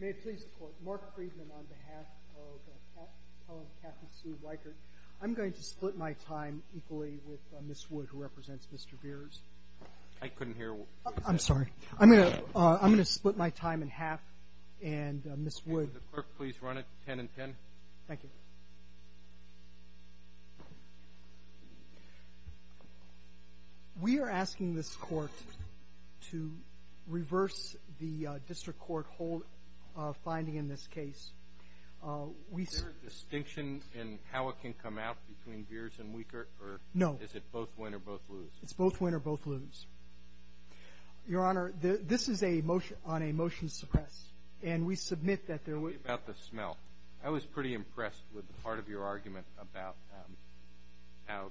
May it please the court, Mark Friedman on behalf of Helen Cathy Sue Wiechert, I'm going to split my time equally with Ms. Wood who represents Mr. Viers. I couldn't hear. I'm sorry. I'm going to split my time in half and Ms. Wood. Clerk, please run it ten and ten. Thank you. We are asking this court to reverse the district court finding in this case. Is there a distinction in how it can come out between Viers and Wiechert? No. Is it both win or both lose? It's both win or both lose. Your Honor, this is a motion on a motion to suppress. And we submit that there was – Part of your argument about how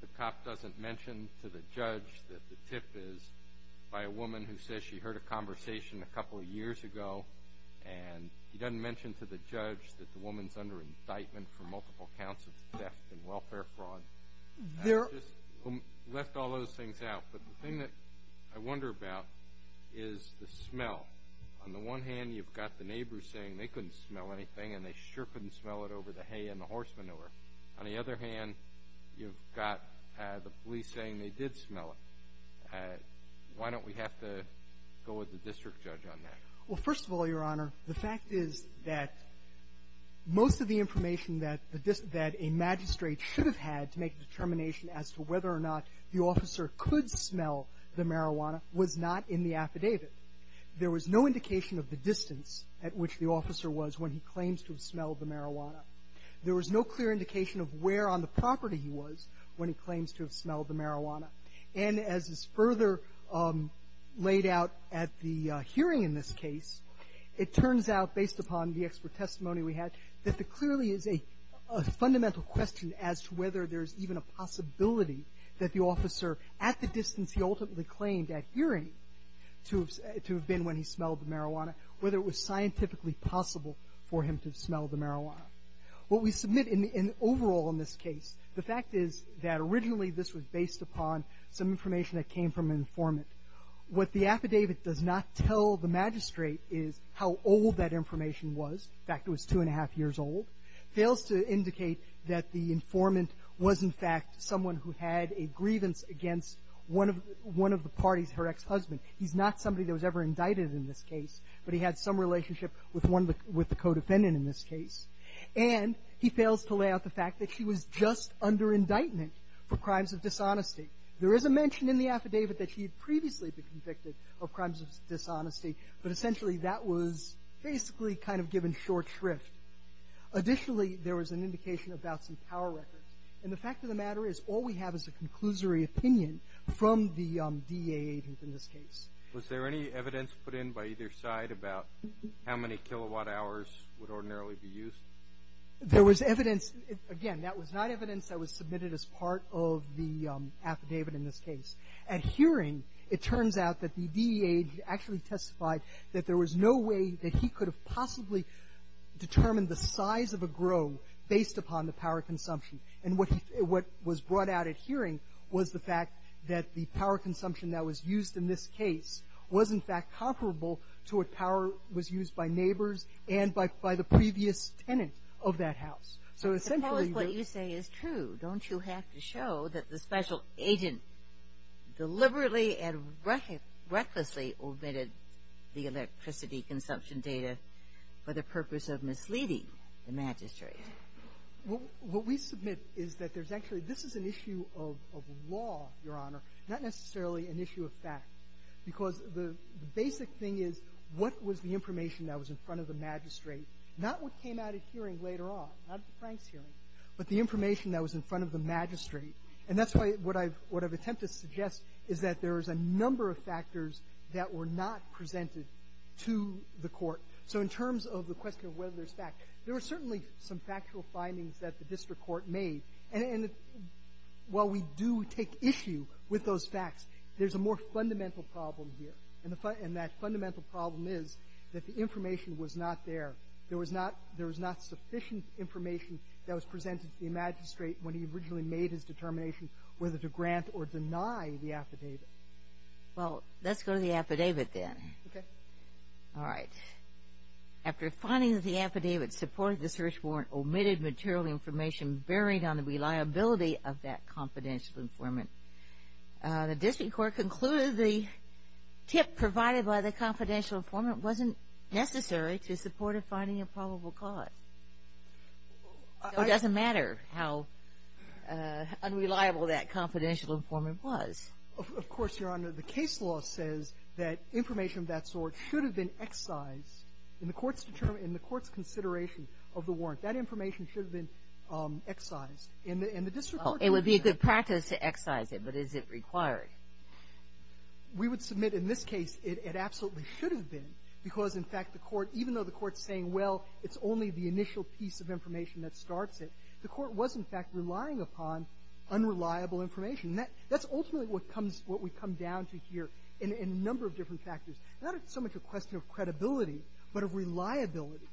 the cop doesn't mention to the judge that the tip is by a woman who says she heard a conversation a couple of years ago. And he doesn't mention to the judge that the woman's under indictment for multiple counts of theft and welfare fraud. I just left all those things out. But the thing that I wonder about is the smell. On the one hand, you've got the neighbors saying they couldn't smell anything and they sure couldn't smell it over the hay and the horse manure. On the other hand, you've got the police saying they did smell it. Why don't we have to go with the district judge on that? Well, first of all, Your Honor, the fact is that most of the information that a magistrate should have had to make a determination as to whether or not the officer could smell the marijuana was not in the affidavit. There was no indication of the distance at which the officer was when he claims to have smelled the marijuana. There was no clear indication of where on the property he was when he claims to have smelled the marijuana. And as is further laid out at the hearing in this case, it turns out, based upon the expert testimony we had, that there clearly is a fundamental question as to whether there's even a possibility that the officer at the distance he ultimately claimed at hearing to have been when he smelled the marijuana, whether it was scientifically possible for him to have smelled the marijuana. What we submit overall in this case, the fact is that originally this was based upon some information that came from an informant. What the affidavit does not tell the magistrate is how old that information was. In fact, it was two and a half years old. Fails to indicate that the informant was, in fact, someone who had a grievance against one of the parties, her ex-husband. He's not somebody that was ever indicted in this case, but he had some relationship with one of the co-defendant in this case. And he fails to lay out the fact that she was just under indictment for crimes of dishonesty. There is a mention in the affidavit that she had previously been convicted of crimes of dishonesty, but essentially that was basically kind of given short shrift. Additionally, there was an indication about some power records. And the fact of the matter is all we have is a conclusory opinion from the DEA agent in this case. Was there any evidence put in by either side about how many kilowatt hours would ordinarily be used? There was evidence. Again, that was not evidence that was submitted as part of the affidavit in this case. At hearing, it turns out that the DEA actually testified that there was no way that he could have possibly determined the size of a grove based upon the power consumption. And what was brought out at hearing was the fact that the power consumption that was used in this case was, in fact, comparable to what power was used by neighbors and by the previous tenant of that house. So essentially the ---- for the purpose of misleading the magistrate. What we submit is that there's actually ---- this is an issue of law, Your Honor, not necessarily an issue of fact. Because the basic thing is what was the information that was in front of the magistrate, not what came out at hearing later on, not at the Franks hearing, but the information that was in front of the magistrate. And that's why what I've attempted to suggest is that there is a number of factors that were not presented to the court. So in terms of the question of whether there's fact, there were certainly some factual findings that the district court made. And while we do take issue with those facts, there's a more fundamental problem here. And the ---- and that fundamental problem is that the information was not there. There was not ---- there was not sufficient information that was presented to the magistrate when he originally made his determination whether to grant or deny the affidavit. Well, let's go to the affidavit then. Okay. All right. After finding that the affidavit supported the search warrant, omitted material information bearing on the reliability of that confidential informant. The district court concluded the tip provided by the confidential informant wasn't necessary to support a finding of probable cause. It doesn't matter how unreliable that confidential informant was. Of course, Your Honor, the case law says that information of that sort should have been excised in the court's determination ---- in the court's consideration of the warrant. That information should have been excised. And the district court ---- It would be a good practice to excise it, but is it required? We would submit in this case it absolutely should have been because, in fact, the court, even though the court's saying, well, it's only the initial piece of information that starts it, the court was, in fact, relying upon unreliable information. That's ultimately what comes ---- what we've come down to here in a number of different factors. Not so much a question of credibility, but of reliability.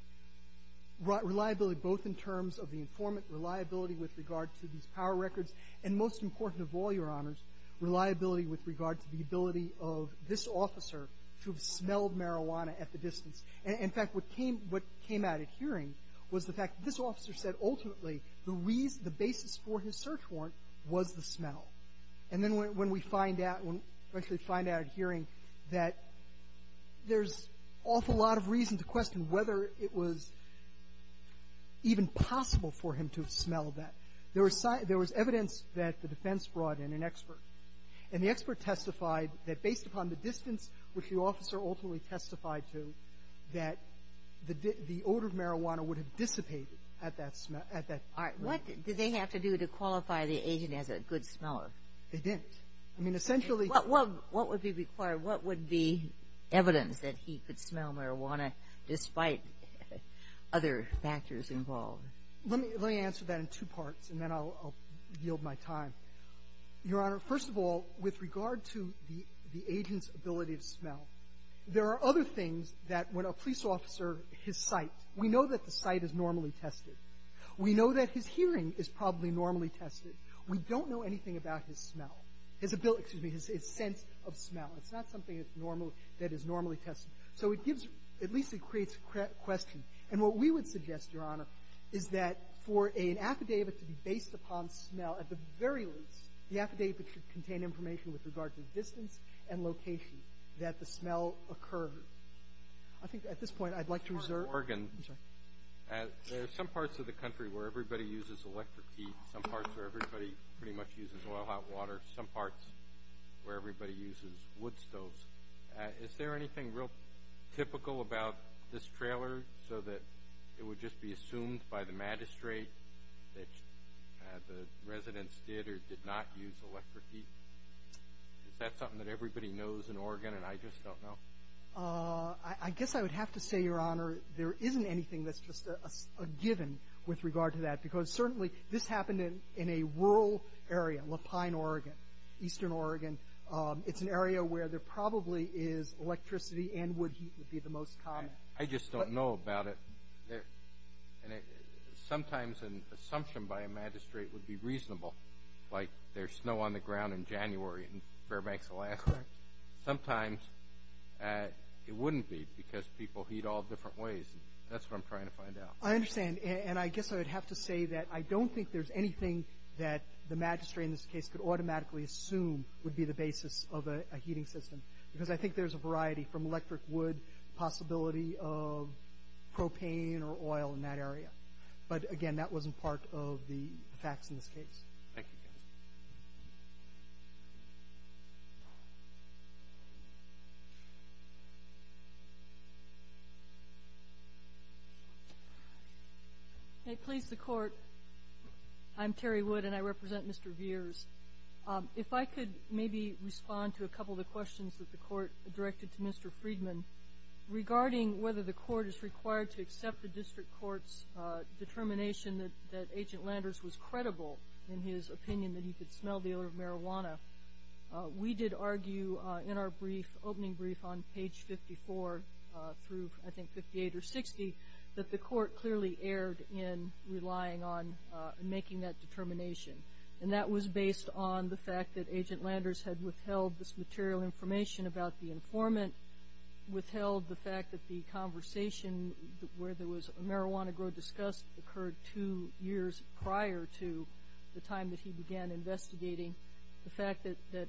Reliability both in terms of the informant, reliability with regard to these power records, and most important of all, Your Honors, reliability with regard to the ability of this officer to have smelled marijuana at the distance. In fact, what came out at hearing was the fact that this officer said ultimately the reason ---- the basis for his search warrant was the smell. And then when we find out ---- when we actually find out at hearing that there's an awful lot of reason to question whether it was even possible for him to have smelled that, there was evidence that the defense brought in, an expert. And the expert testified that based upon the distance which the officer ultimately testified to, that the odor of marijuana would have dissipated at that smell ---- at that distance. All right. What did they have to do to qualify the agent as a good smeller? They didn't. I mean, essentially ---- What would be required? What would be evidence that he could smell marijuana despite other factors involved? Let me answer that in two parts, and then I'll yield my time. Your Honor, first of all, with regard to the agent's ability to smell, there are other things that when a police officer ---- his sight. We know that the sight is normally tested. We know that his hearing is probably normally tested. We don't know anything about his smell. His ability, excuse me, his sense of smell. It's not something that's normally ---- that is normally tested. So it gives ---- at least it creates a question. And what we would suggest, Your Honor, is that for an affidavit to be based upon smell, at the very least, the affidavit should contain information with regard to distance and location that the smell occurred. I think at this point I'd like to reserve ---- Your Honor, Oregon. I'm sorry. There are some parts of the country where everybody uses electric heat. Some parts where everybody pretty much uses oil, hot water. Some parts where everybody uses wood stoves. Is there anything real typical about this trailer so that it would just be assumed by the magistrate that the residents did or did not use electric heat? Is that something that everybody knows in Oregon and I just don't know? I guess I would have to say, Your Honor, there isn't anything that's just a given with regard to that because certainly this happened in a rural area, Lapine, Oregon, eastern Oregon. It's an area where there probably is electricity and wood heat would be the most common. I just don't know about it. Sometimes an assumption by a magistrate would be reasonable, like there's snow on the ground in January in Fairbanks, Alaska. Sometimes it wouldn't be because people heat all different ways. That's what I'm trying to find out. I understand, and I guess I would have to say that I don't think there's anything that the magistrate in this case could automatically assume would be the basis of a heating system because I think there's a variety from electric wood, possibility of propane or oil in that area. But, again, that wasn't part of the facts in this case. Thank you. May it please the Court, I'm Terry Wood and I represent Mr. Veers. If I could maybe respond to a couple of the questions that the Court directed to Mr. Friedman regarding whether the Court is required to accept the district court's determination that Agent Landers was credible in his opinion that he could smell the odor of marijuana. We did argue in our opening brief on page 54 through, I think, 58 or 60, that the Court clearly erred in relying on making that determination, and that was based on the fact that Agent Landers had withheld this material information about the informant, withheld the fact that the conversation where there was marijuana grow discussed occurred two years prior to the time that he began investigating, the fact that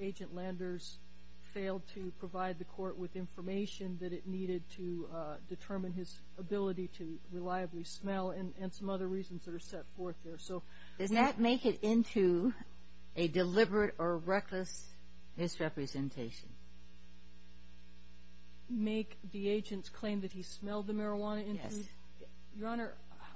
Agent Landers failed to provide the Court with information that it needed to determine his ability to reliably smell and some other reasons that are set forth there. Does that make it into a deliberate or reckless misrepresentation? Make the agents claim that he smelled the marijuana? Yes. Your Honor,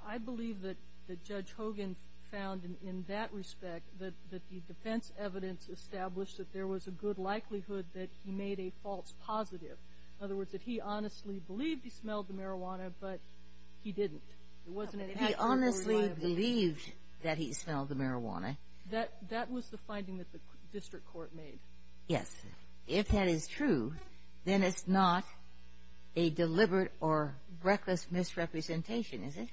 I believe that Judge Hogan found, in that respect, that the defense evidence established that there was a good likelihood that he made a false positive. In other words, that he honestly believed he smelled the marijuana, but he didn't. He honestly believed that he smelled the marijuana. That was the finding that the district court made. Yes. If that is true, then it's not a deliberate or reckless misrepresentation, is it?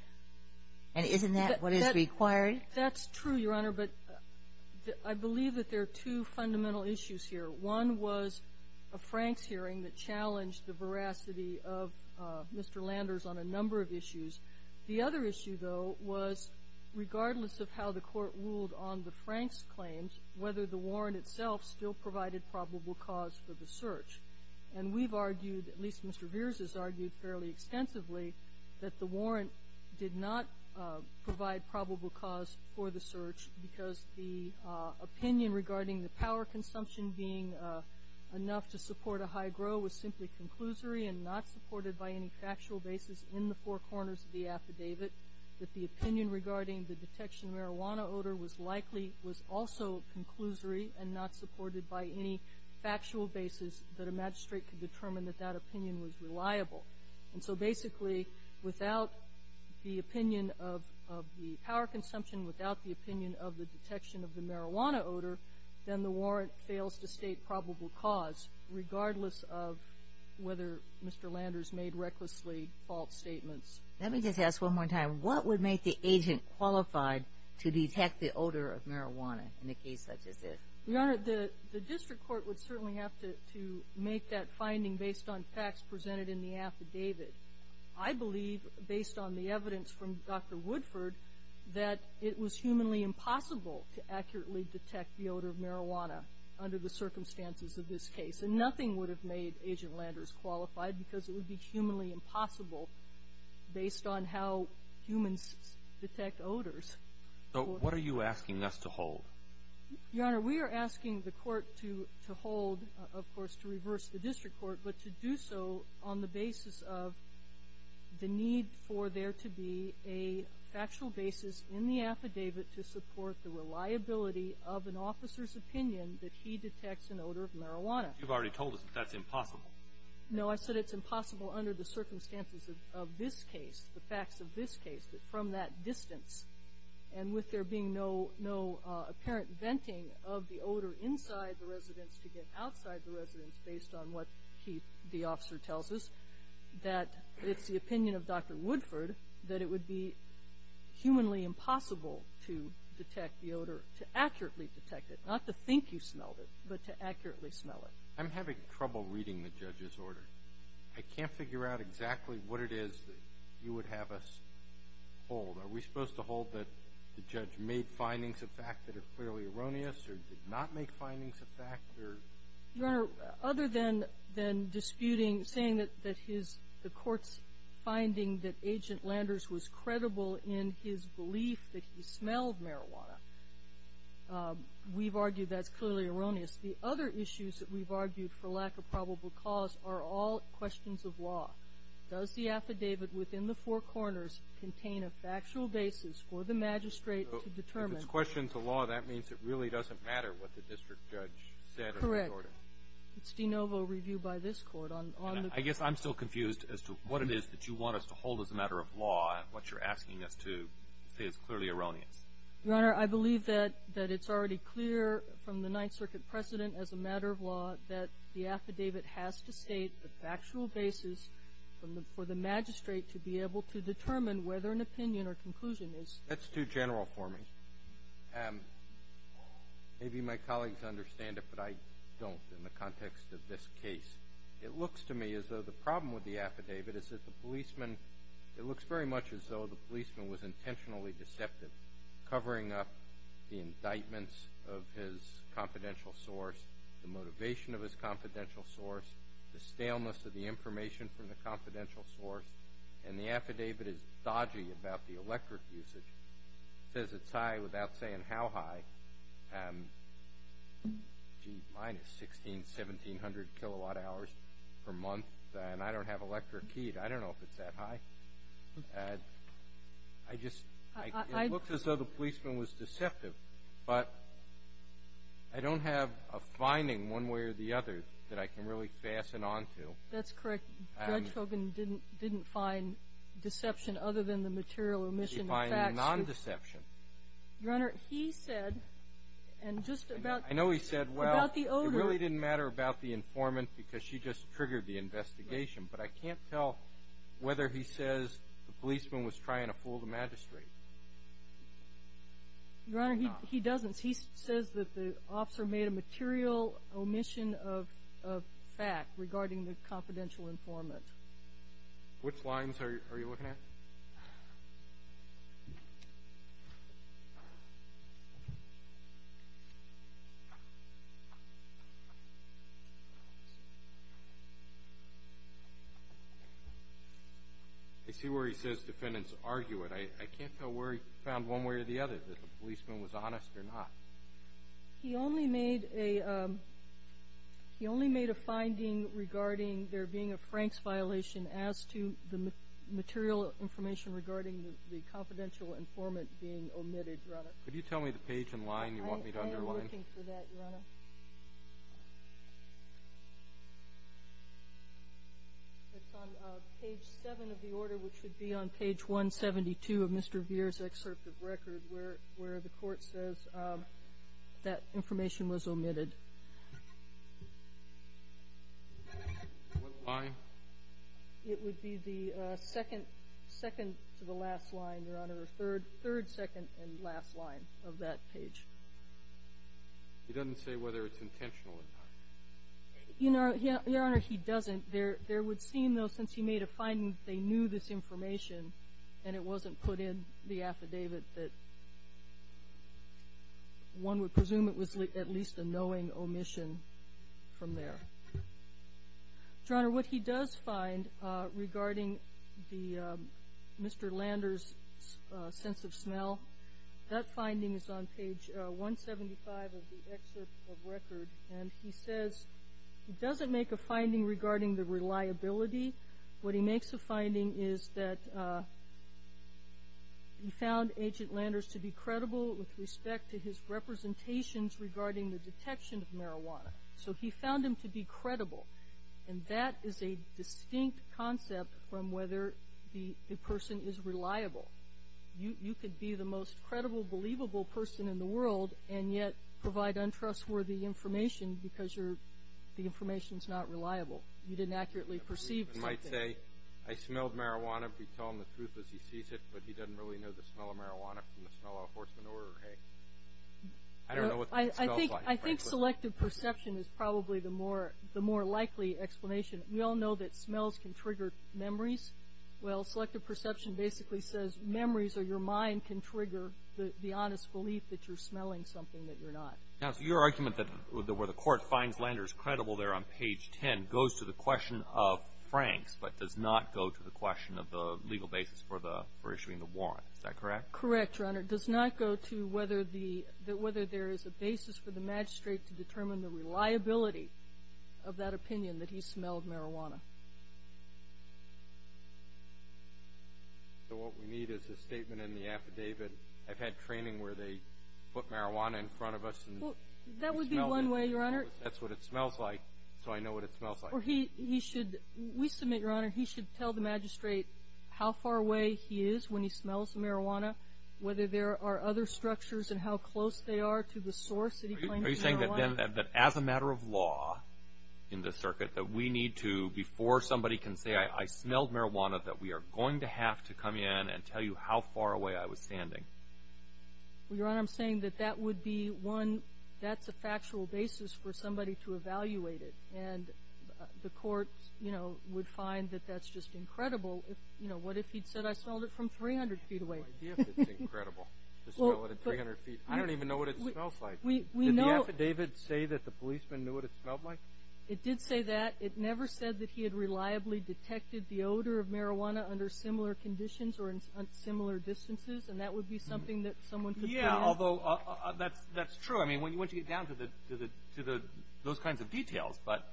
And isn't that what is required? That's true, Your Honor, but I believe that there are two fundamental issues here. One was a Franks hearing that challenged the veracity of Mr. Landers on a number of issues. The other issue, though, was, regardless of how the Court ruled on the Franks claims, whether the warrant itself still provided probable cause for the search. And we've argued, at least Mr. Veers has argued fairly extensively, that the warrant did not provide probable cause for the search because the opinion regarding the power consumption being enough to support a high grow was simply conclusory and not supported by any factual basis in the four corners of the affidavit. That the opinion regarding the detection of marijuana odor was likely was also conclusory and not supported by any factual basis that a magistrate could determine that that opinion was reliable. And so, basically, without the opinion of the power consumption, without the opinion of the detection of the marijuana odor, then the warrant fails to state probable cause, regardless of whether Mr. Landers made recklessly false statements. Let me just ask one more time. What would make the agent qualified to detect the odor of marijuana in a case such as this? Your Honor, the district court would certainly have to make that finding based on facts presented in the affidavit. I believe, based on the evidence from Dr. Woodford, that it was humanly impossible to accurately detect the odor of marijuana under the circumstances of this case. And nothing would have made Agent Landers qualified because it would be based on how humans detect odors. So what are you asking us to hold? Your Honor, we are asking the court to hold, of course, to reverse the district court, but to do so on the basis of the need for there to be a factual basis in the affidavit to support the reliability of an officer's opinion that he detects an odor of marijuana. You've already told us that that's impossible. No, I said it's impossible under the circumstances of this case, the facts of this case, that from that distance and with there being no apparent venting of the odor inside the residence to get outside the residence, based on what the officer tells us, that it's the opinion of Dr. Woodford that it would be humanly impossible to detect the odor, to accurately detect it. Not to think you smelled it, but to accurately smell it. I'm having trouble reading the judge's order. I can't figure out exactly what it is that you would have us hold. Are we supposed to hold that the judge made findings of fact that are clearly erroneous or did not make findings of fact? Your Honor, other than disputing, saying that the court's finding that Agent Landers was credible in his belief that he smelled marijuana, we've argued that's clearly erroneous. The other issues that we've argued for lack of probable cause are all questions of law. Does the affidavit within the four corners contain a factual basis for the magistrate to determine? If it's questions of law, that means it really doesn't matter what the district judge said in the order. Correct. It's de novo review by this court on the court. I guess I'm still confused as to what it is that you want us to hold as a matter of law and what you're asking us to say is clearly erroneous. Your Honor, I believe that it's already clear from the Ninth Circuit precedent as a matter of law that the affidavit has to state the factual basis for the magistrate to be able to determine whether an opinion or conclusion is. That's too general for me. Maybe my colleagues understand it, but I don't in the context of this case. It looks to me as though the problem with the affidavit is that the policeman It looks very much as though the policeman was intentionally deceptive, covering up the indictments of his confidential source, the motivation of his confidential source, the staleness of the information from the confidential source, and the affidavit is dodgy about the electric usage. It says it's high without saying how high. Gee, mine is 1,600, 1,700 kilowatt hours per month, and I don't have electric keyed. I don't know if it's that high. It looks as though the policeman was deceptive, but I don't have a finding one way or the other that I can really fasten on to. That's correct. Judge Hogan didn't find deception other than the material omission facts. He didn't find non-deception. Your Honor, he said, and just about the odor. I know he said, well, it really didn't matter about the informant because she just triggered the investigation. But I can't tell whether he says the policeman was trying to fool the magistrate. Your Honor, he doesn't. He says that the officer made a material omission of fact regarding the confidential informant. Which lines are you looking at? I see where he says defendants argue it. I can't tell where he found one way or the other, that the policeman was honest or not. He only made a finding regarding there being a Franks violation as to the material information regarding the confidential informant being omitted, Your Honor. Could you tell me the page and line you want me to underline? I am looking for that, Your Honor. It's on page 7 of the order, which would be on page 172 of Mr. Veer's excerpt of record, where the court says that information was omitted. What line? It would be the second to the last line, Your Honor, third, second, and last line of that page. He doesn't say whether it's intentional or not. Your Honor, he doesn't. There would seem, though, since he made a finding that they knew this information and it wasn't put in the affidavit, that one would presume it was at least a knowing omission from there. Your Honor, what he does find regarding Mr. Lander's sense of smell, that finding is on page 175 of the excerpt of record, and he says he doesn't make a finding regarding the reliability. What he makes a finding is that he found Agent Landers to be credible with respect to his representations regarding the detection of marijuana. So he found him to be credible, and that is a distinct concept from whether the person is reliable. You could be the most credible, believable person in the world and yet provide untrustworthy information because the information is not reliable. You didn't accurately perceive something. You might say, I smelled marijuana. If you tell him the truth as he sees it, but he doesn't really know the smell of marijuana from the smell of horse manure or hay. I don't know what that smells like. I think selective perception is probably the more likely explanation. We all know that smells can trigger memories. Well, selective perception basically says memories or your mind can trigger the honest belief that you're smelling something that you're not. Counsel, your argument that where the court finds Landers credible there on page 10 goes to the question of Franks but does not go to the question of the legal basis for issuing the warrant. Is that correct? Correct, Your Honor. It does not go to whether there is a basis for the magistrate to determine the reliability of that opinion that he smelled marijuana. So what we need is a statement in the affidavit. I've had training where they put marijuana in front of us. That would be one way, Your Honor. That's what it smells like, so I know what it smells like. We submit, Your Honor, he should tell the magistrate how far away he is when he smells marijuana, whether there are other structures and how close they are to the source that he claims marijuana. Are you saying that as a matter of law in the circuit that we need to, before somebody can say I smelled marijuana, that we are going to have to come in and tell you how far away I was standing? Your Honor, I'm saying that that would be one, that's a factual basis for somebody to evaluate it, and the court would find that that's just incredible. What if he'd said I smelled it from 300 feet away? I have no idea if it's incredible to smell it at 300 feet. I don't even know what it smells like. Did the affidavit say that the policeman knew what it smelled like? It did say that. It never said that he had reliably detected the odor of marijuana under similar conditions or in similar distances, and that would be something that someone could find? Yeah, although that's true. I mean, once you get down to those kinds of details, but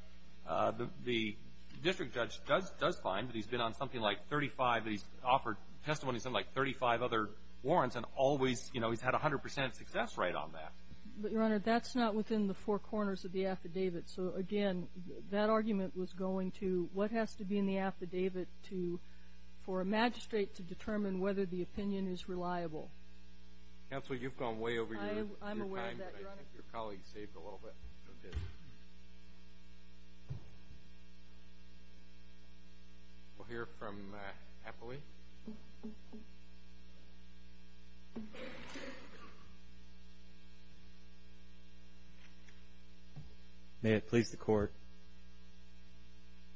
the district judge does find that he's been on something like 35, that he's offered testimony on something like 35 other warrants, and always, you know, he's had 100 percent success rate on that. But, Your Honor, that's not within the four corners of the affidavit. So, again, that argument was going to what has to be in the affidavit for a magistrate to determine whether the opinion is reliable. Counsel, you've gone way over your time. I'm aware of that, Your Honor. I think your colleague saved a little bit. We'll hear from Appley. Appley. May it please the Court.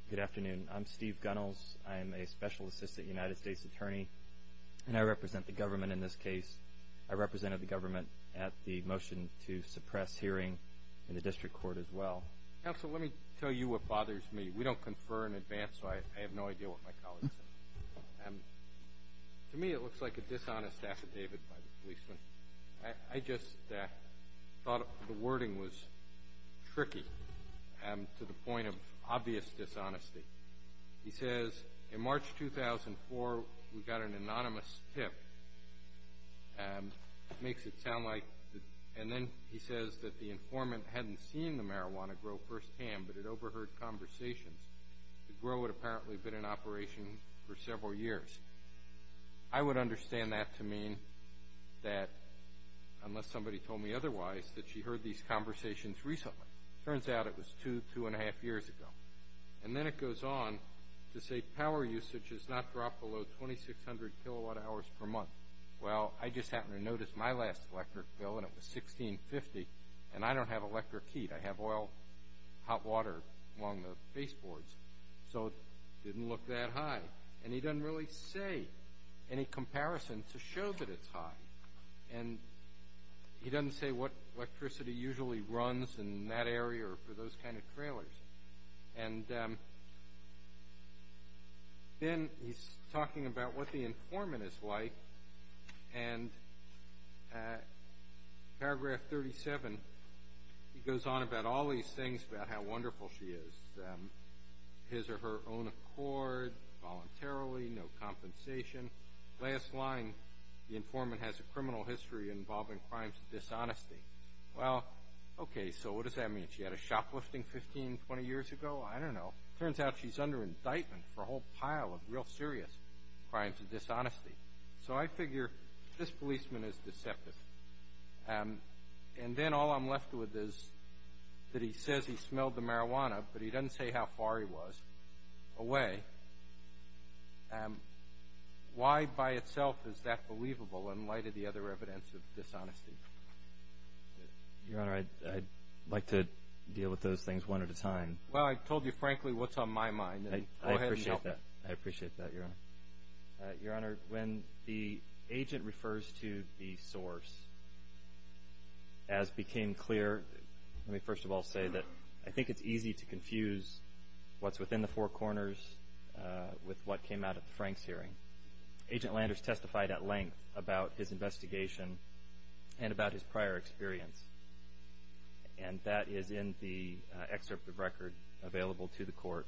Good afternoon. I'm Steve Gunnels. I am a special assistant United States attorney, and I represent the government in this case. I represented the government at the motion to suppress hearing in the district court as well. Counsel, let me tell you what bothers me. We don't confer in advance, so I have no idea what my colleague said. To me, it looks like a dishonest affidavit by the policeman. I just thought the wording was tricky to the point of obvious dishonesty. He says, in March 2004, we got an anonymous tip. It makes it sound like, and then he says that the informant hadn't seen the marijuana grow firsthand, but had overheard conversations. The grow had apparently been in operation for several years. I would understand that to mean that, unless somebody told me otherwise, that she heard these conversations recently. It turns out it was two, two and a half years ago. And then it goes on to say power usage has not dropped below 2,600 kilowatt hours per month. Well, I just happened to notice my last electric bill, and it was 1650, and I don't have electric heat. I have oil, hot water along the baseboards, so it didn't look that high. And he doesn't really say any comparison to show that it's high. And he doesn't say what electricity usually runs in that area or for those kind of trailers. And then he's talking about what the informant is like, and paragraph 37, he goes on about all these things about how wonderful she is, his or her own accord voluntarily, no compensation. Last line, the informant has a criminal history involving crimes of dishonesty. Well, okay, so what does that mean? She had a shoplifting 15, 20 years ago? I don't know. It turns out she's under indictment for a whole pile of real serious crimes of dishonesty. So I figure this policeman is deceptive. And then all I'm left with is that he says he smelled the marijuana, but he doesn't say how far he was away. Why by itself is that believable in light of the other evidence of dishonesty? Your Honor, I'd like to deal with those things one at a time. Well, I told you frankly what's on my mind. Go ahead and help me. I appreciate that. I appreciate that, Your Honor. Your Honor, when the agent refers to the source, as became clear, let me first of all say that I think it's easy to confuse what's within the four corners with what came out at the Franks hearing. Agent Landers testified at length about his investigation and about his prior experience, and that is in the excerpt of record available to the Court.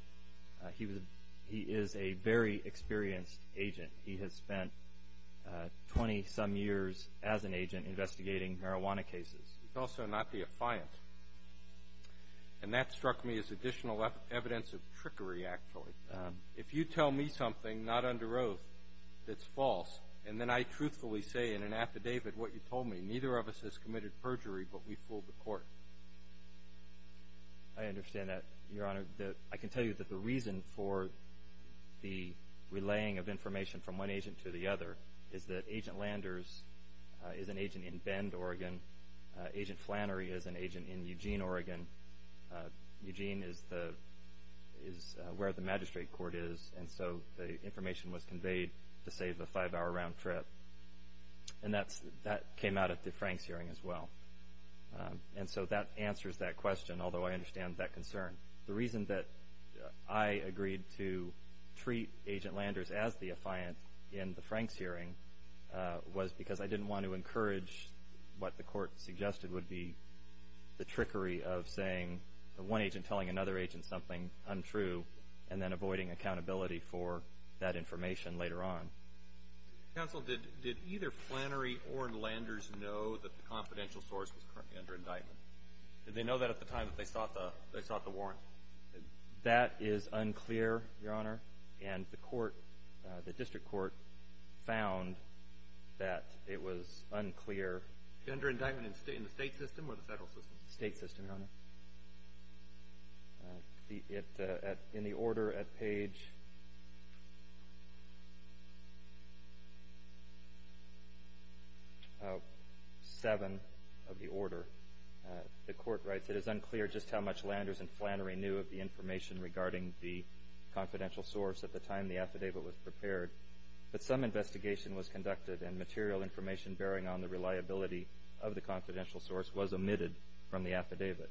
He is a very experienced agent. He has spent 20-some years as an agent investigating marijuana cases. He's also not the affiant. And that struck me as additional evidence of trickery, actually. If you tell me something not under oath that's false, and then I truthfully say in an affidavit what you told me, neither of us has committed perjury, but we fooled the Court. I understand that, Your Honor. I can tell you that the reason for the relaying of information from one agent to the other is that Agent Landers is an agent in Bend, Oregon. Agent Flannery is an agent in Eugene, Oregon. Eugene is where the magistrate court is, and so the information was conveyed to save a five-hour round trip. And that came out at the Franks hearing as well. And so that answers that question, although I understand that concern. The reason that I agreed to treat Agent Landers as the affiant in the Franks hearing was because I didn't want to encourage what the Court suggested would be the trickery of saying one agent telling another agent something untrue and then avoiding accountability for that information later on. Counsel, did either Flannery or Landers know that the confidential source was currently under indictment? Did they know that at the time that they sought the warrant? That is unclear, Your Honor, and the District Court found that it was unclear. Under indictment in the state system or the federal system? State system, Your Honor. In the order at page 7 of the order, the Court writes, It is unclear just how much Landers and Flannery knew of the information regarding the confidential source at the time the affidavit was prepared, but some investigation was conducted and material information bearing on the reliability of the confidential source was omitted from the affidavit.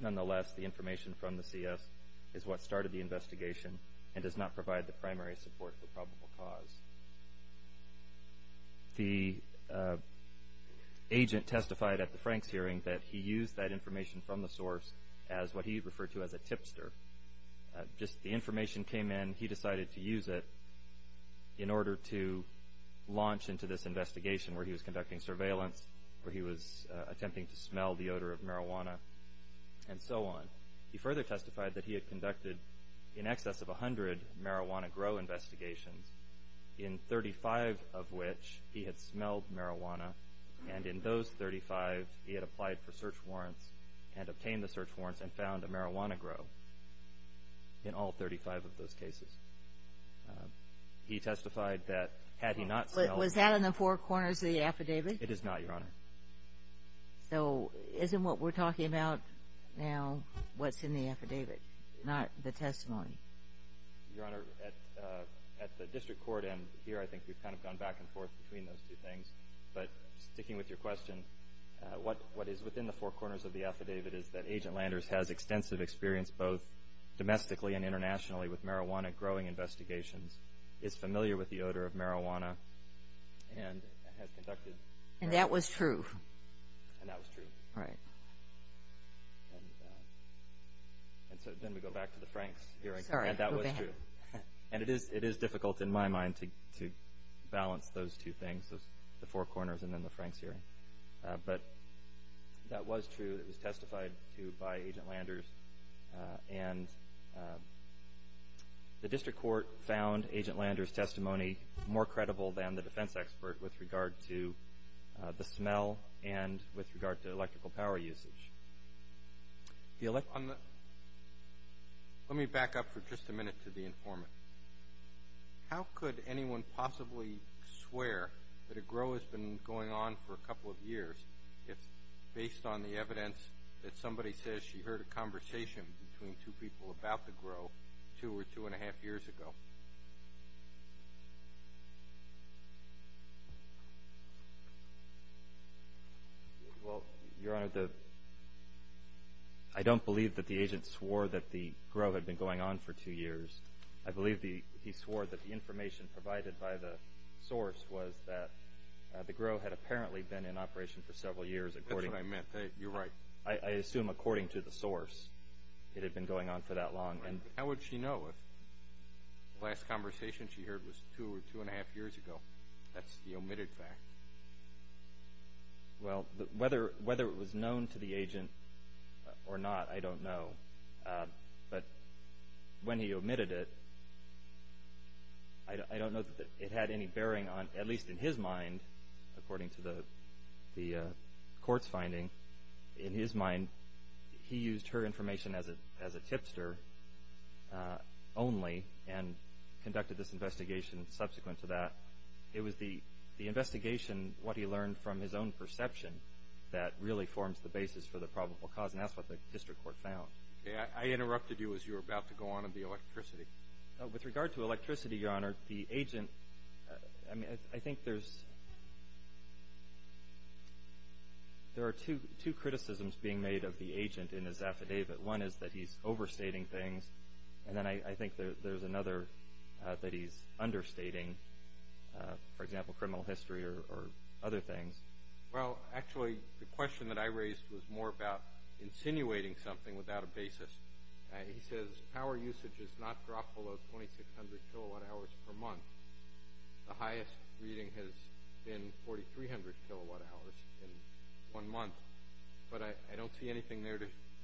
Nonetheless, the information from the CS is what started the investigation and does not provide the primary support for probable cause. The agent testified at the Franks hearing that he used that information from the source as what he referred to as a tipster. Just the information came in, he decided to use it in order to launch into this investigation where he was conducting surveillance, where he was attempting to smell the odor of marijuana, and so on. He further testified that he had conducted in excess of 100 marijuana grow investigations, in 35 of which he had smelled marijuana, and in those 35 he had applied for search warrants and obtained the search warrants and found a marijuana grow in all 35 of those cases. He testified that had he not smelled it. Was that in the four corners of the affidavit? It is not, Your Honor. So isn't what we're talking about now what's in the affidavit, not the testimony? Your Honor, at the district court end here I think we've kind of gone back and forth between those two things, but sticking with your question, what is within the four corners of the affidavit is that Agent Landers has extensive experience both domestically and internationally with marijuana growing investigations, is familiar with the odor of marijuana, and has conducted And that was true. And that was true. Right. And so then we go back to the Franks hearing. Sorry, go ahead. And that was true. And it is difficult in my mind to balance those two things, the four corners and then the Franks hearing. But that was true. It was testified to by Agent Landers. And the district court found Agent Landers' testimony more credible than the defense expert with regard to the smell and with regard to electrical power usage. Let me back up for just a minute to the informant. How could anyone possibly swear that a grow has been going on for a couple of years based on the evidence that somebody says she heard a conversation between two people about the grow two or two and a half years ago? Well, Your Honor, I don't believe that the agent swore that the grow had been going on for two years. I believe he swore that the information provided by the source was that the grow had apparently been in operation for several years. That's what I meant. You're right. I assume according to the source it had been going on for that long. How would she know if the last conversation she heard was two or two and a half years ago? That's the omitted fact. Well, whether it was known to the agent or not, I don't know. But when he omitted it, I don't know that it had any bearing on, at least in his mind, according to the court's finding. In his mind, he used her information as a tipster only and conducted this investigation subsequent to that. It was the investigation, what he learned from his own perception, that really forms the basis for the probable cause, and that's what the district court found. I interrupted you as you were about to go on to the electricity. With regard to electricity, Your Honor, the agent, I think there are two criticisms being made of the agent in his affidavit. One is that he's overstating things, and then I think there's another that he's understating, for example, criminal history or other things. Well, actually, the question that I raised was more about insinuating something without a basis. He says power usage has not dropped below 2,600 kilowatt-hours per month. The highest reading has been 4,300 kilowatt-hours in one month. But I don't see anything there.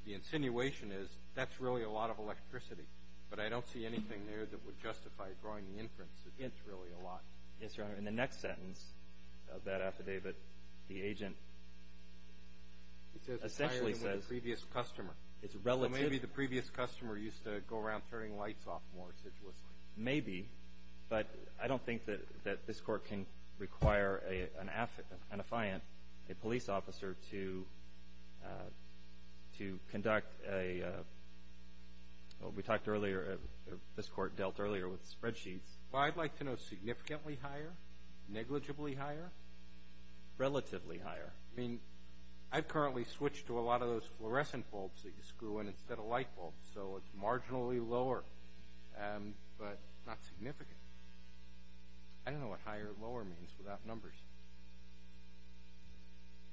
The insinuation is that's really a lot of electricity, but I don't see anything there that would justify drawing the inference that it's really a lot. Yes, Your Honor. In the next sentence of that affidavit, the agent essentially says it's relative. Maybe the previous customer used to go around turning lights off more assiduously. Maybe, but I don't think that this Court can require an affiant, a police officer, to conduct a – we talked earlier, this Court dealt earlier with spreadsheets. Well, I'd like to know significantly higher, negligibly higher? Relatively higher. I mean, I've currently switched to a lot of those fluorescent bulbs that you screw in instead of light bulbs, so it's marginally lower, but not significant. I don't know what higher or lower means without numbers.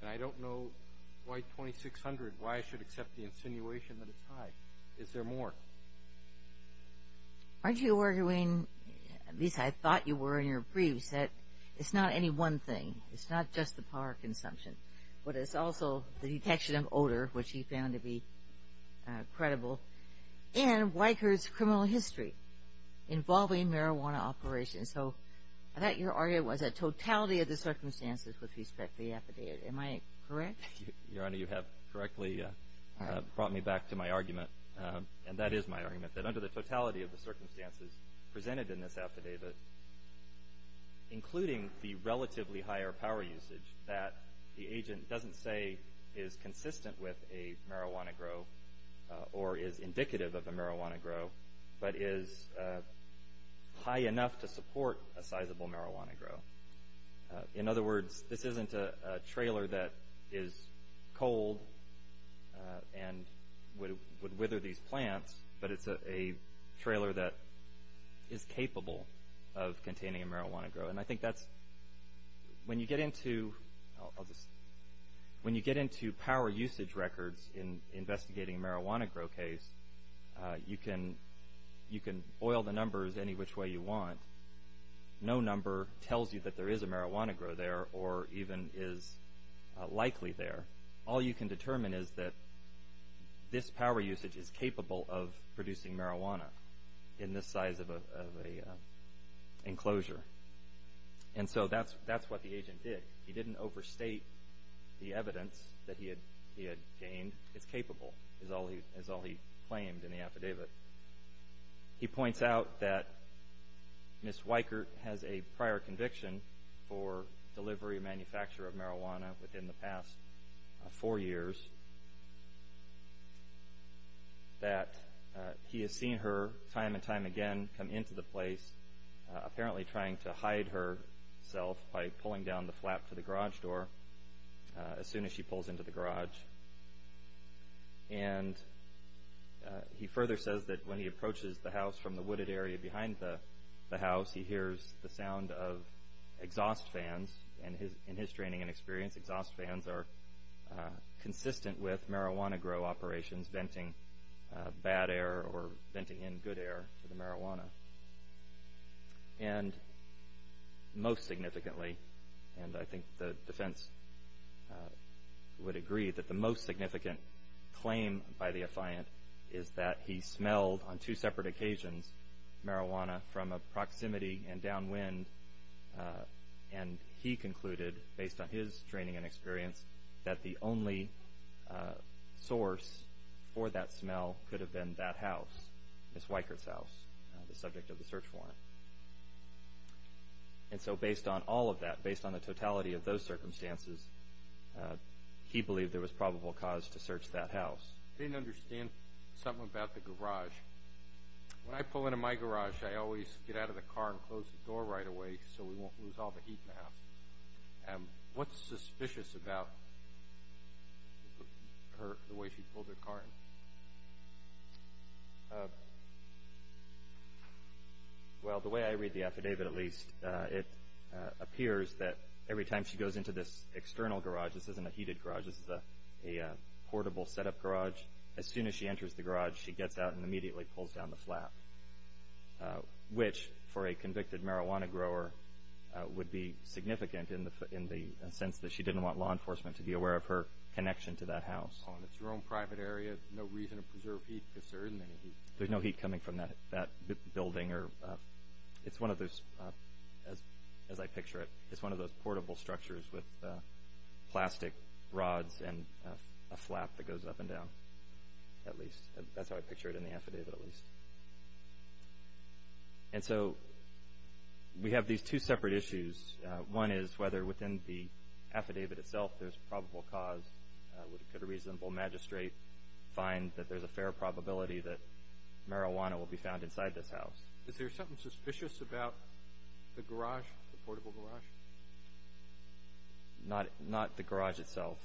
And I don't know why 2,600, why I should accept the insinuation that it's high. Is there more? Aren't you arguing, at least I thought you were in your briefs, that it's not any one thing? It's not just the power consumption, but it's also the detection of odor, which he found to be credible, and Weicker's criminal history involving marijuana operations. So I thought your argument was a totality of the circumstances with respect to the affidavit. Am I correct? Your Honor, you have correctly brought me back to my argument, and that is my argument, that under the totality of the circumstances presented in this affidavit, including the relatively higher power usage that the agent doesn't say is consistent with a marijuana grow or is indicative of a marijuana grow, but is high enough to support a sizable marijuana grow. In other words, this isn't a trailer that is cold and would wither these plants, but it's a trailer that is capable of containing a marijuana grow. And I think that's when you get into power usage records in investigating a marijuana grow case, you can oil the numbers any which way you want. No number tells you that there is a marijuana grow there or even is likely there. All you can determine is that this power usage is capable of producing marijuana in this size of an enclosure. And so that's what the agent did. He didn't overstate the evidence that he had gained. It's capable, is all he claimed in the affidavit. He points out that Ms. Weichert has a prior conviction for delivery and manufacture of marijuana within the past four years, that he has seen her time and time again come into the place, apparently trying to hide herself by pulling down the flap to the garage door as soon as she pulls into the garage. And he further says that when he approaches the house from the wooded area behind the house, he hears the sound of exhaust fans. In his training and experience, exhaust fans are consistent with marijuana grow operations, venting bad air or venting in good air to the marijuana. And most significantly, and I think the defense would agree that the most significant claim by the affiant is that he smelled, on two separate occasions, marijuana from a proximity and downwind. And he concluded, based on his training and experience, that the only source for that smell could have been that house, Ms. Weichert's house. The subject of the search warrant. And so based on all of that, based on the totality of those circumstances, he believed there was probable cause to search that house. I didn't understand something about the garage. When I pull into my garage, I always get out of the car and close the door right away What's suspicious about the way she pulled her car in? Well, the way I read the affidavit, at least, it appears that every time she goes into this external garage, this isn't a heated garage, this is a portable setup garage, as soon as she enters the garage, which, for a convicted marijuana grower, would be significant in the sense that she didn't want law enforcement to be aware of her connection to that house. It's her own private area, no reason to preserve heat because there isn't any heat. There's no heat coming from that building. It's one of those, as I picture it, it's one of those portable structures with plastic rods and a flap that goes up and down, at least. That's how I picture it in the affidavit, at least. And so we have these two separate issues. One is whether within the affidavit itself there's probable cause. Could a reasonable magistrate find that there's a fair probability that marijuana will be found inside this house? Is there something suspicious about the garage, the portable garage? Not the garage itself.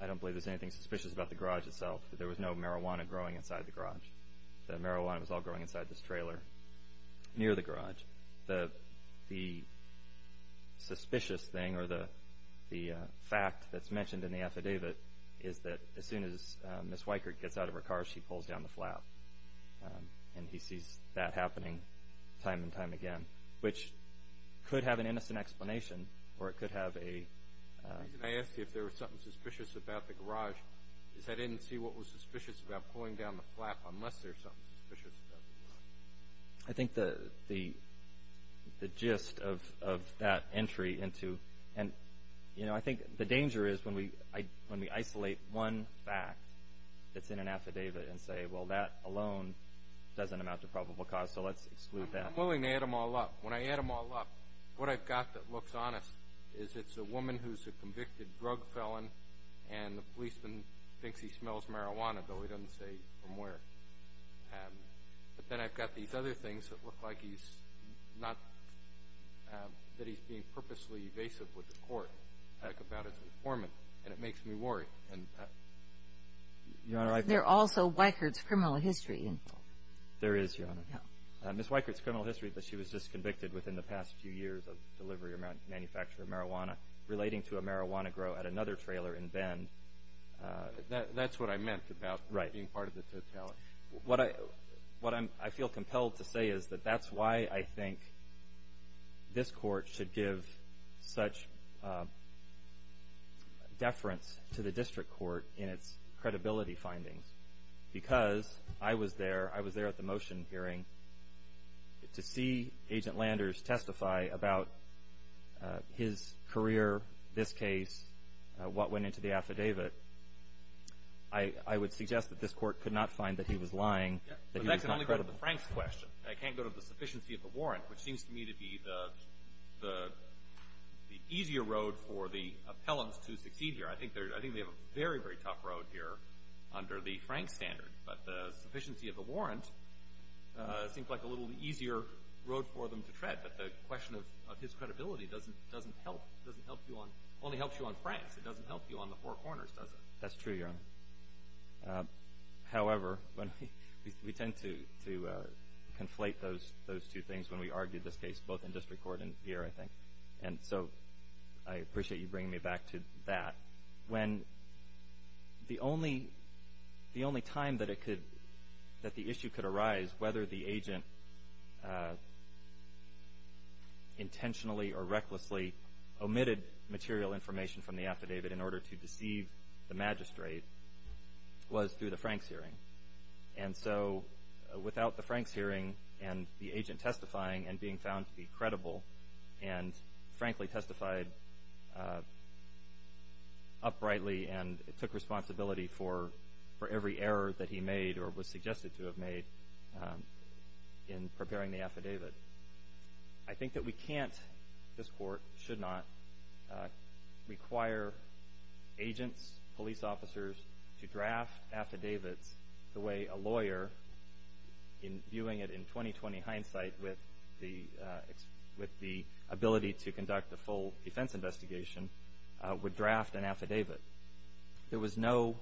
I don't believe there's anything suspicious about the garage itself. There was no marijuana growing inside the garage. The marijuana was all growing inside this trailer near the garage. The suspicious thing or the fact that's mentioned in the affidavit is that as soon as Ms. Weichert gets out of her car, she pulls down the flap. And he sees that happening time and time again, which could have an innocent explanation or it could have a... The reason I asked you if there was something suspicious about the garage is I didn't see what was suspicious about pulling down the flap unless there's something suspicious about the garage. I think the gist of that entry into... And I think the danger is when we isolate one fact that's in an affidavit and say, well, that alone doesn't amount to probable cause, so let's exclude that. I'm willing to add them all up. When I add them all up, what I've got that looks honest is it's a woman who's a convicted drug felon and the policeman thinks he smells marijuana, though he doesn't say from where. But then I've got these other things that look like he's not... that he's being purposely evasive with the court about his informant, and it makes me worry. There is, Your Honor. Ms. Weikert's criminal history is that she was disconvicted within the past few years of delivery or manufacture of marijuana relating to a marijuana grow at another trailer in Bend. That's what I meant about being part of the totality. What I feel compelled to say is that that's why I think this court should give such deference to the district court in its credibility findings because I was there. I was there at the motion hearing to see Agent Landers testify about his career, this case, what went into the affidavit. I would suggest that this court could not find that he was lying, that he was not credible. But that can only go to the Franks question. It can't go to the sufficiency of the warrant, which seems to me to be the easier road for the appellants to succeed here. I think they have a very, very tough road here under the Franks standard. But the sufficiency of the warrant seems like a little easier road for them to tread. But the question of his credibility doesn't help. It only helps you on Franks. It doesn't help you on the Four Corners, does it? That's true, Your Honor. However, we tend to conflate those two things when we argue this case, both in district court and here, I think. And so I appreciate you bringing me back to that. When the only time that the issue could arise, whether the agent intentionally or recklessly omitted material information from the affidavit in order to deceive the magistrate, was through the Franks hearing. And so without the Franks hearing and the agent testifying and being found to be credible and, frankly, testified uprightly and took responsibility for every error that he made or was suggested to have made in preparing the affidavit. I think that we can't, this Court should not, require agents, police officers, to draft affidavits the way a lawyer, viewing it in 20-20 hindsight with the ability to conduct a full defense investigation, would draft an affidavit. There was no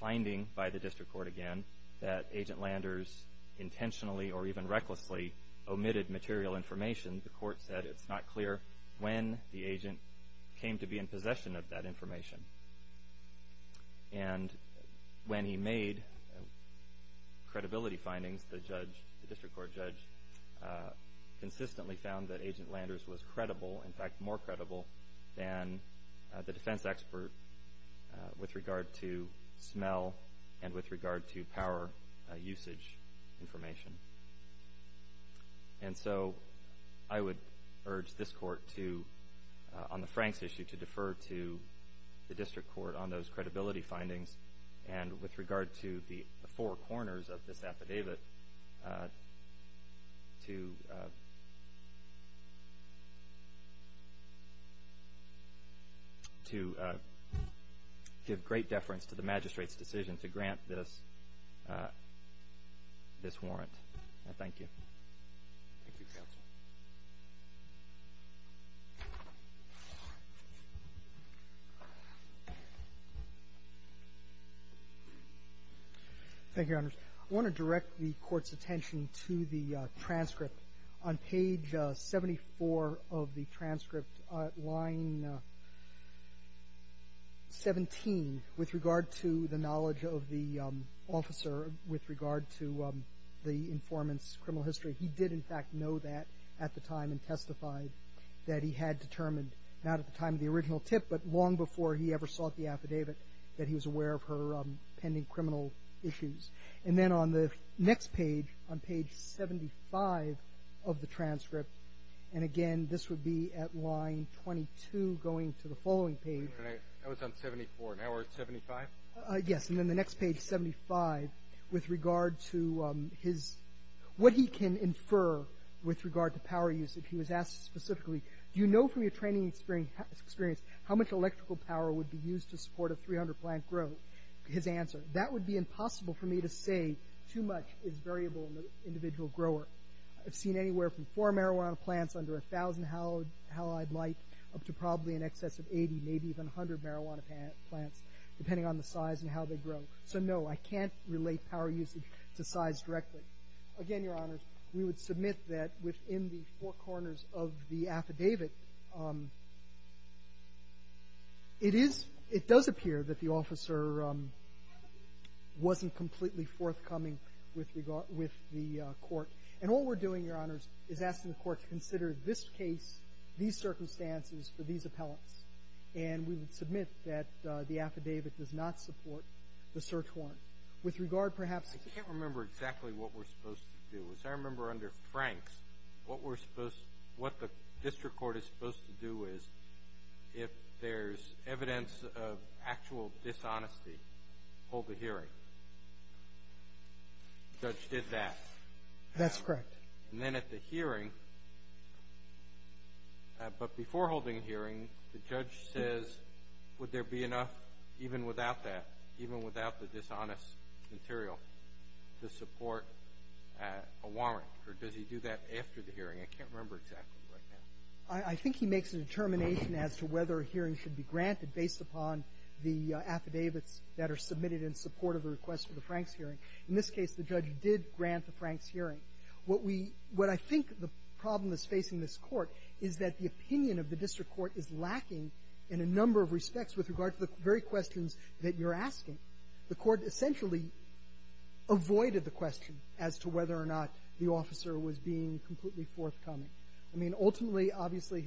finding by the district court, again, that Agent Landers intentionally or even recklessly omitted material information. The Court said it's not clear when the agent came to be in possession of that information. And when he made credibility findings, the district court judge consistently found that Agent Landers was credible, in fact more credible than the defense expert with regard to smell and with regard to power usage information. And so I would urge this Court to, on the Franks issue, to defer to the district court on those credibility findings and with regard to the four corners of this affidavit to give great deference to the magistrate's decision to grant this warrant. Thank you. Thank you, counsel. Thank you, Your Honors. I want to direct the Court's attention to the transcript. On page 74 of the transcript, line 17, with regard to the knowledge of the officer, with regard to the informant's criminal history, he did, in fact, know that at the time and testified that he had determined not at the time of the original tip but long before he ever sought the affidavit that he was aware of her pending criminal issues. And then on the next page, on page 75 of the transcript, and again this would be at line 22 going to the following page. That was on 74. Now we're at 75? Yes. Yes, and then the next page, 75, with regard to what he can infer with regard to power use. If he was asked specifically, do you know from your training experience how much electrical power would be used to support a 300-plant growth? His answer, that would be impossible for me to say. Too much is variable in the individual grower. I've seen anywhere from four marijuana plants under a thousand halide light up to probably in excess of 80, maybe even 100 marijuana plants, depending on the size and how they grow. So no, I can't relate power usage to size directly. Again, Your Honors, we would submit that within the four corners of the affidavit, it is, it does appear that the officer wasn't completely forthcoming with regard, with the court. And all we're doing, Your Honors, is asking the court to consider this case, these circumstances, for these appellants. And we would submit that the affidavit does not support the search warrant. With regard, perhaps to ---- I can't remember exactly what we're supposed to do. As I remember under Franks, what we're supposed, what the district court is supposed to do is if there's evidence of actual dishonesty, hold the hearing. The judge did that. And then at the hearing, but before holding the hearing, the judge says, would there be enough even without that, even without the dishonest material to support a warrant? Or does he do that after the hearing? I can't remember exactly right now. I think he makes a determination as to whether a hearing should be granted based upon the affidavits that are submitted in support of the request for the Franks hearing. In this case, the judge did grant the Franks hearing. What we, what I think the problem is facing this court is that the opinion of the judge is lacking in a number of respects with regard to the very questions that you're asking. The court essentially avoided the question as to whether or not the officer was being completely forthcoming. I mean, ultimately, obviously,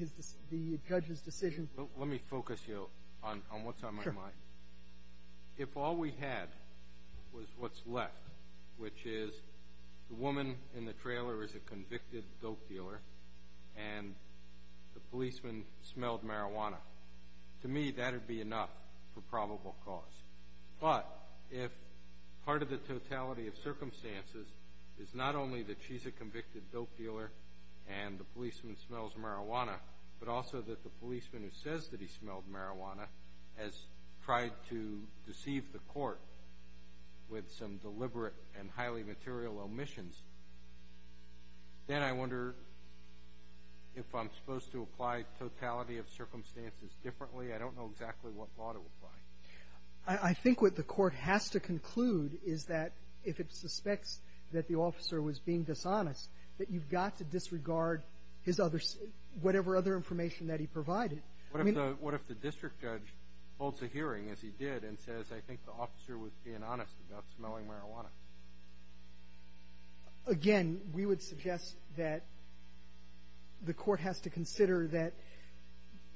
the judge's decision ---- Let me focus you on what's on my mind. Sure. If all we had was what's left, which is the woman in the trailer is a convicted dope dealer and the policeman smelled marijuana, to me that would be enough for probable cause. But if part of the totality of circumstances is not only that she's a convicted dope dealer and the policeman smells marijuana, but also that the policeman who says that he smelled marijuana has tried to deceive the court with some deliberate and highly material omissions, then I wonder if I'm supposed to apply totality of circumstances differently. I don't know exactly what law to apply. I think what the court has to conclude is that if it suspects that the officer was being dishonest, that you've got to disregard his other ---- whatever other information that he provided. I mean ---- What if the district judge holds a hearing, as he did, and says, I think the officer was being honest about smelling marijuana? Again, we would suggest that the court has to consider that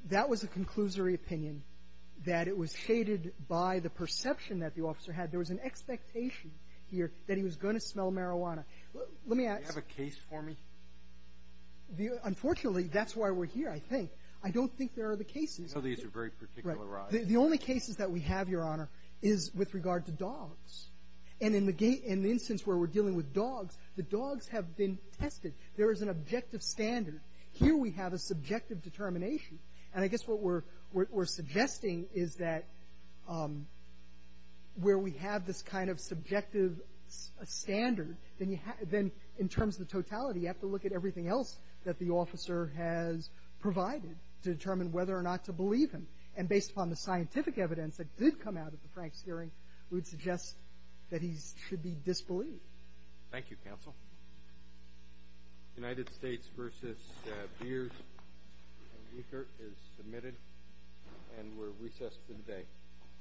that was a conclusory opinion, that it was shaded by the perception that the officer had. There was an expectation here that he was going to smell marijuana. Let me ask ---- Do you have a case for me? Unfortunately, that's why we're here, I think. I don't think there are other cases. I know these are very particular rides. The only cases that we have, Your Honor, is with regard to dogs. And in the instance where we're dealing with dogs, the dogs have been tested. There is an objective standard. Here we have a subjective determination. And I guess what we're suggesting is that where we have this kind of subjective standard, then you have to ---- in terms of the totality, you have to look at everything else that the officer has provided to determine whether or not to believe him. And based upon the scientific evidence that did come out of the Frank's hearing, we would suggest that he should be disbelieved. Thank you, counsel. United States v. Beers and Eaker is submitted. And we're recessed for the day.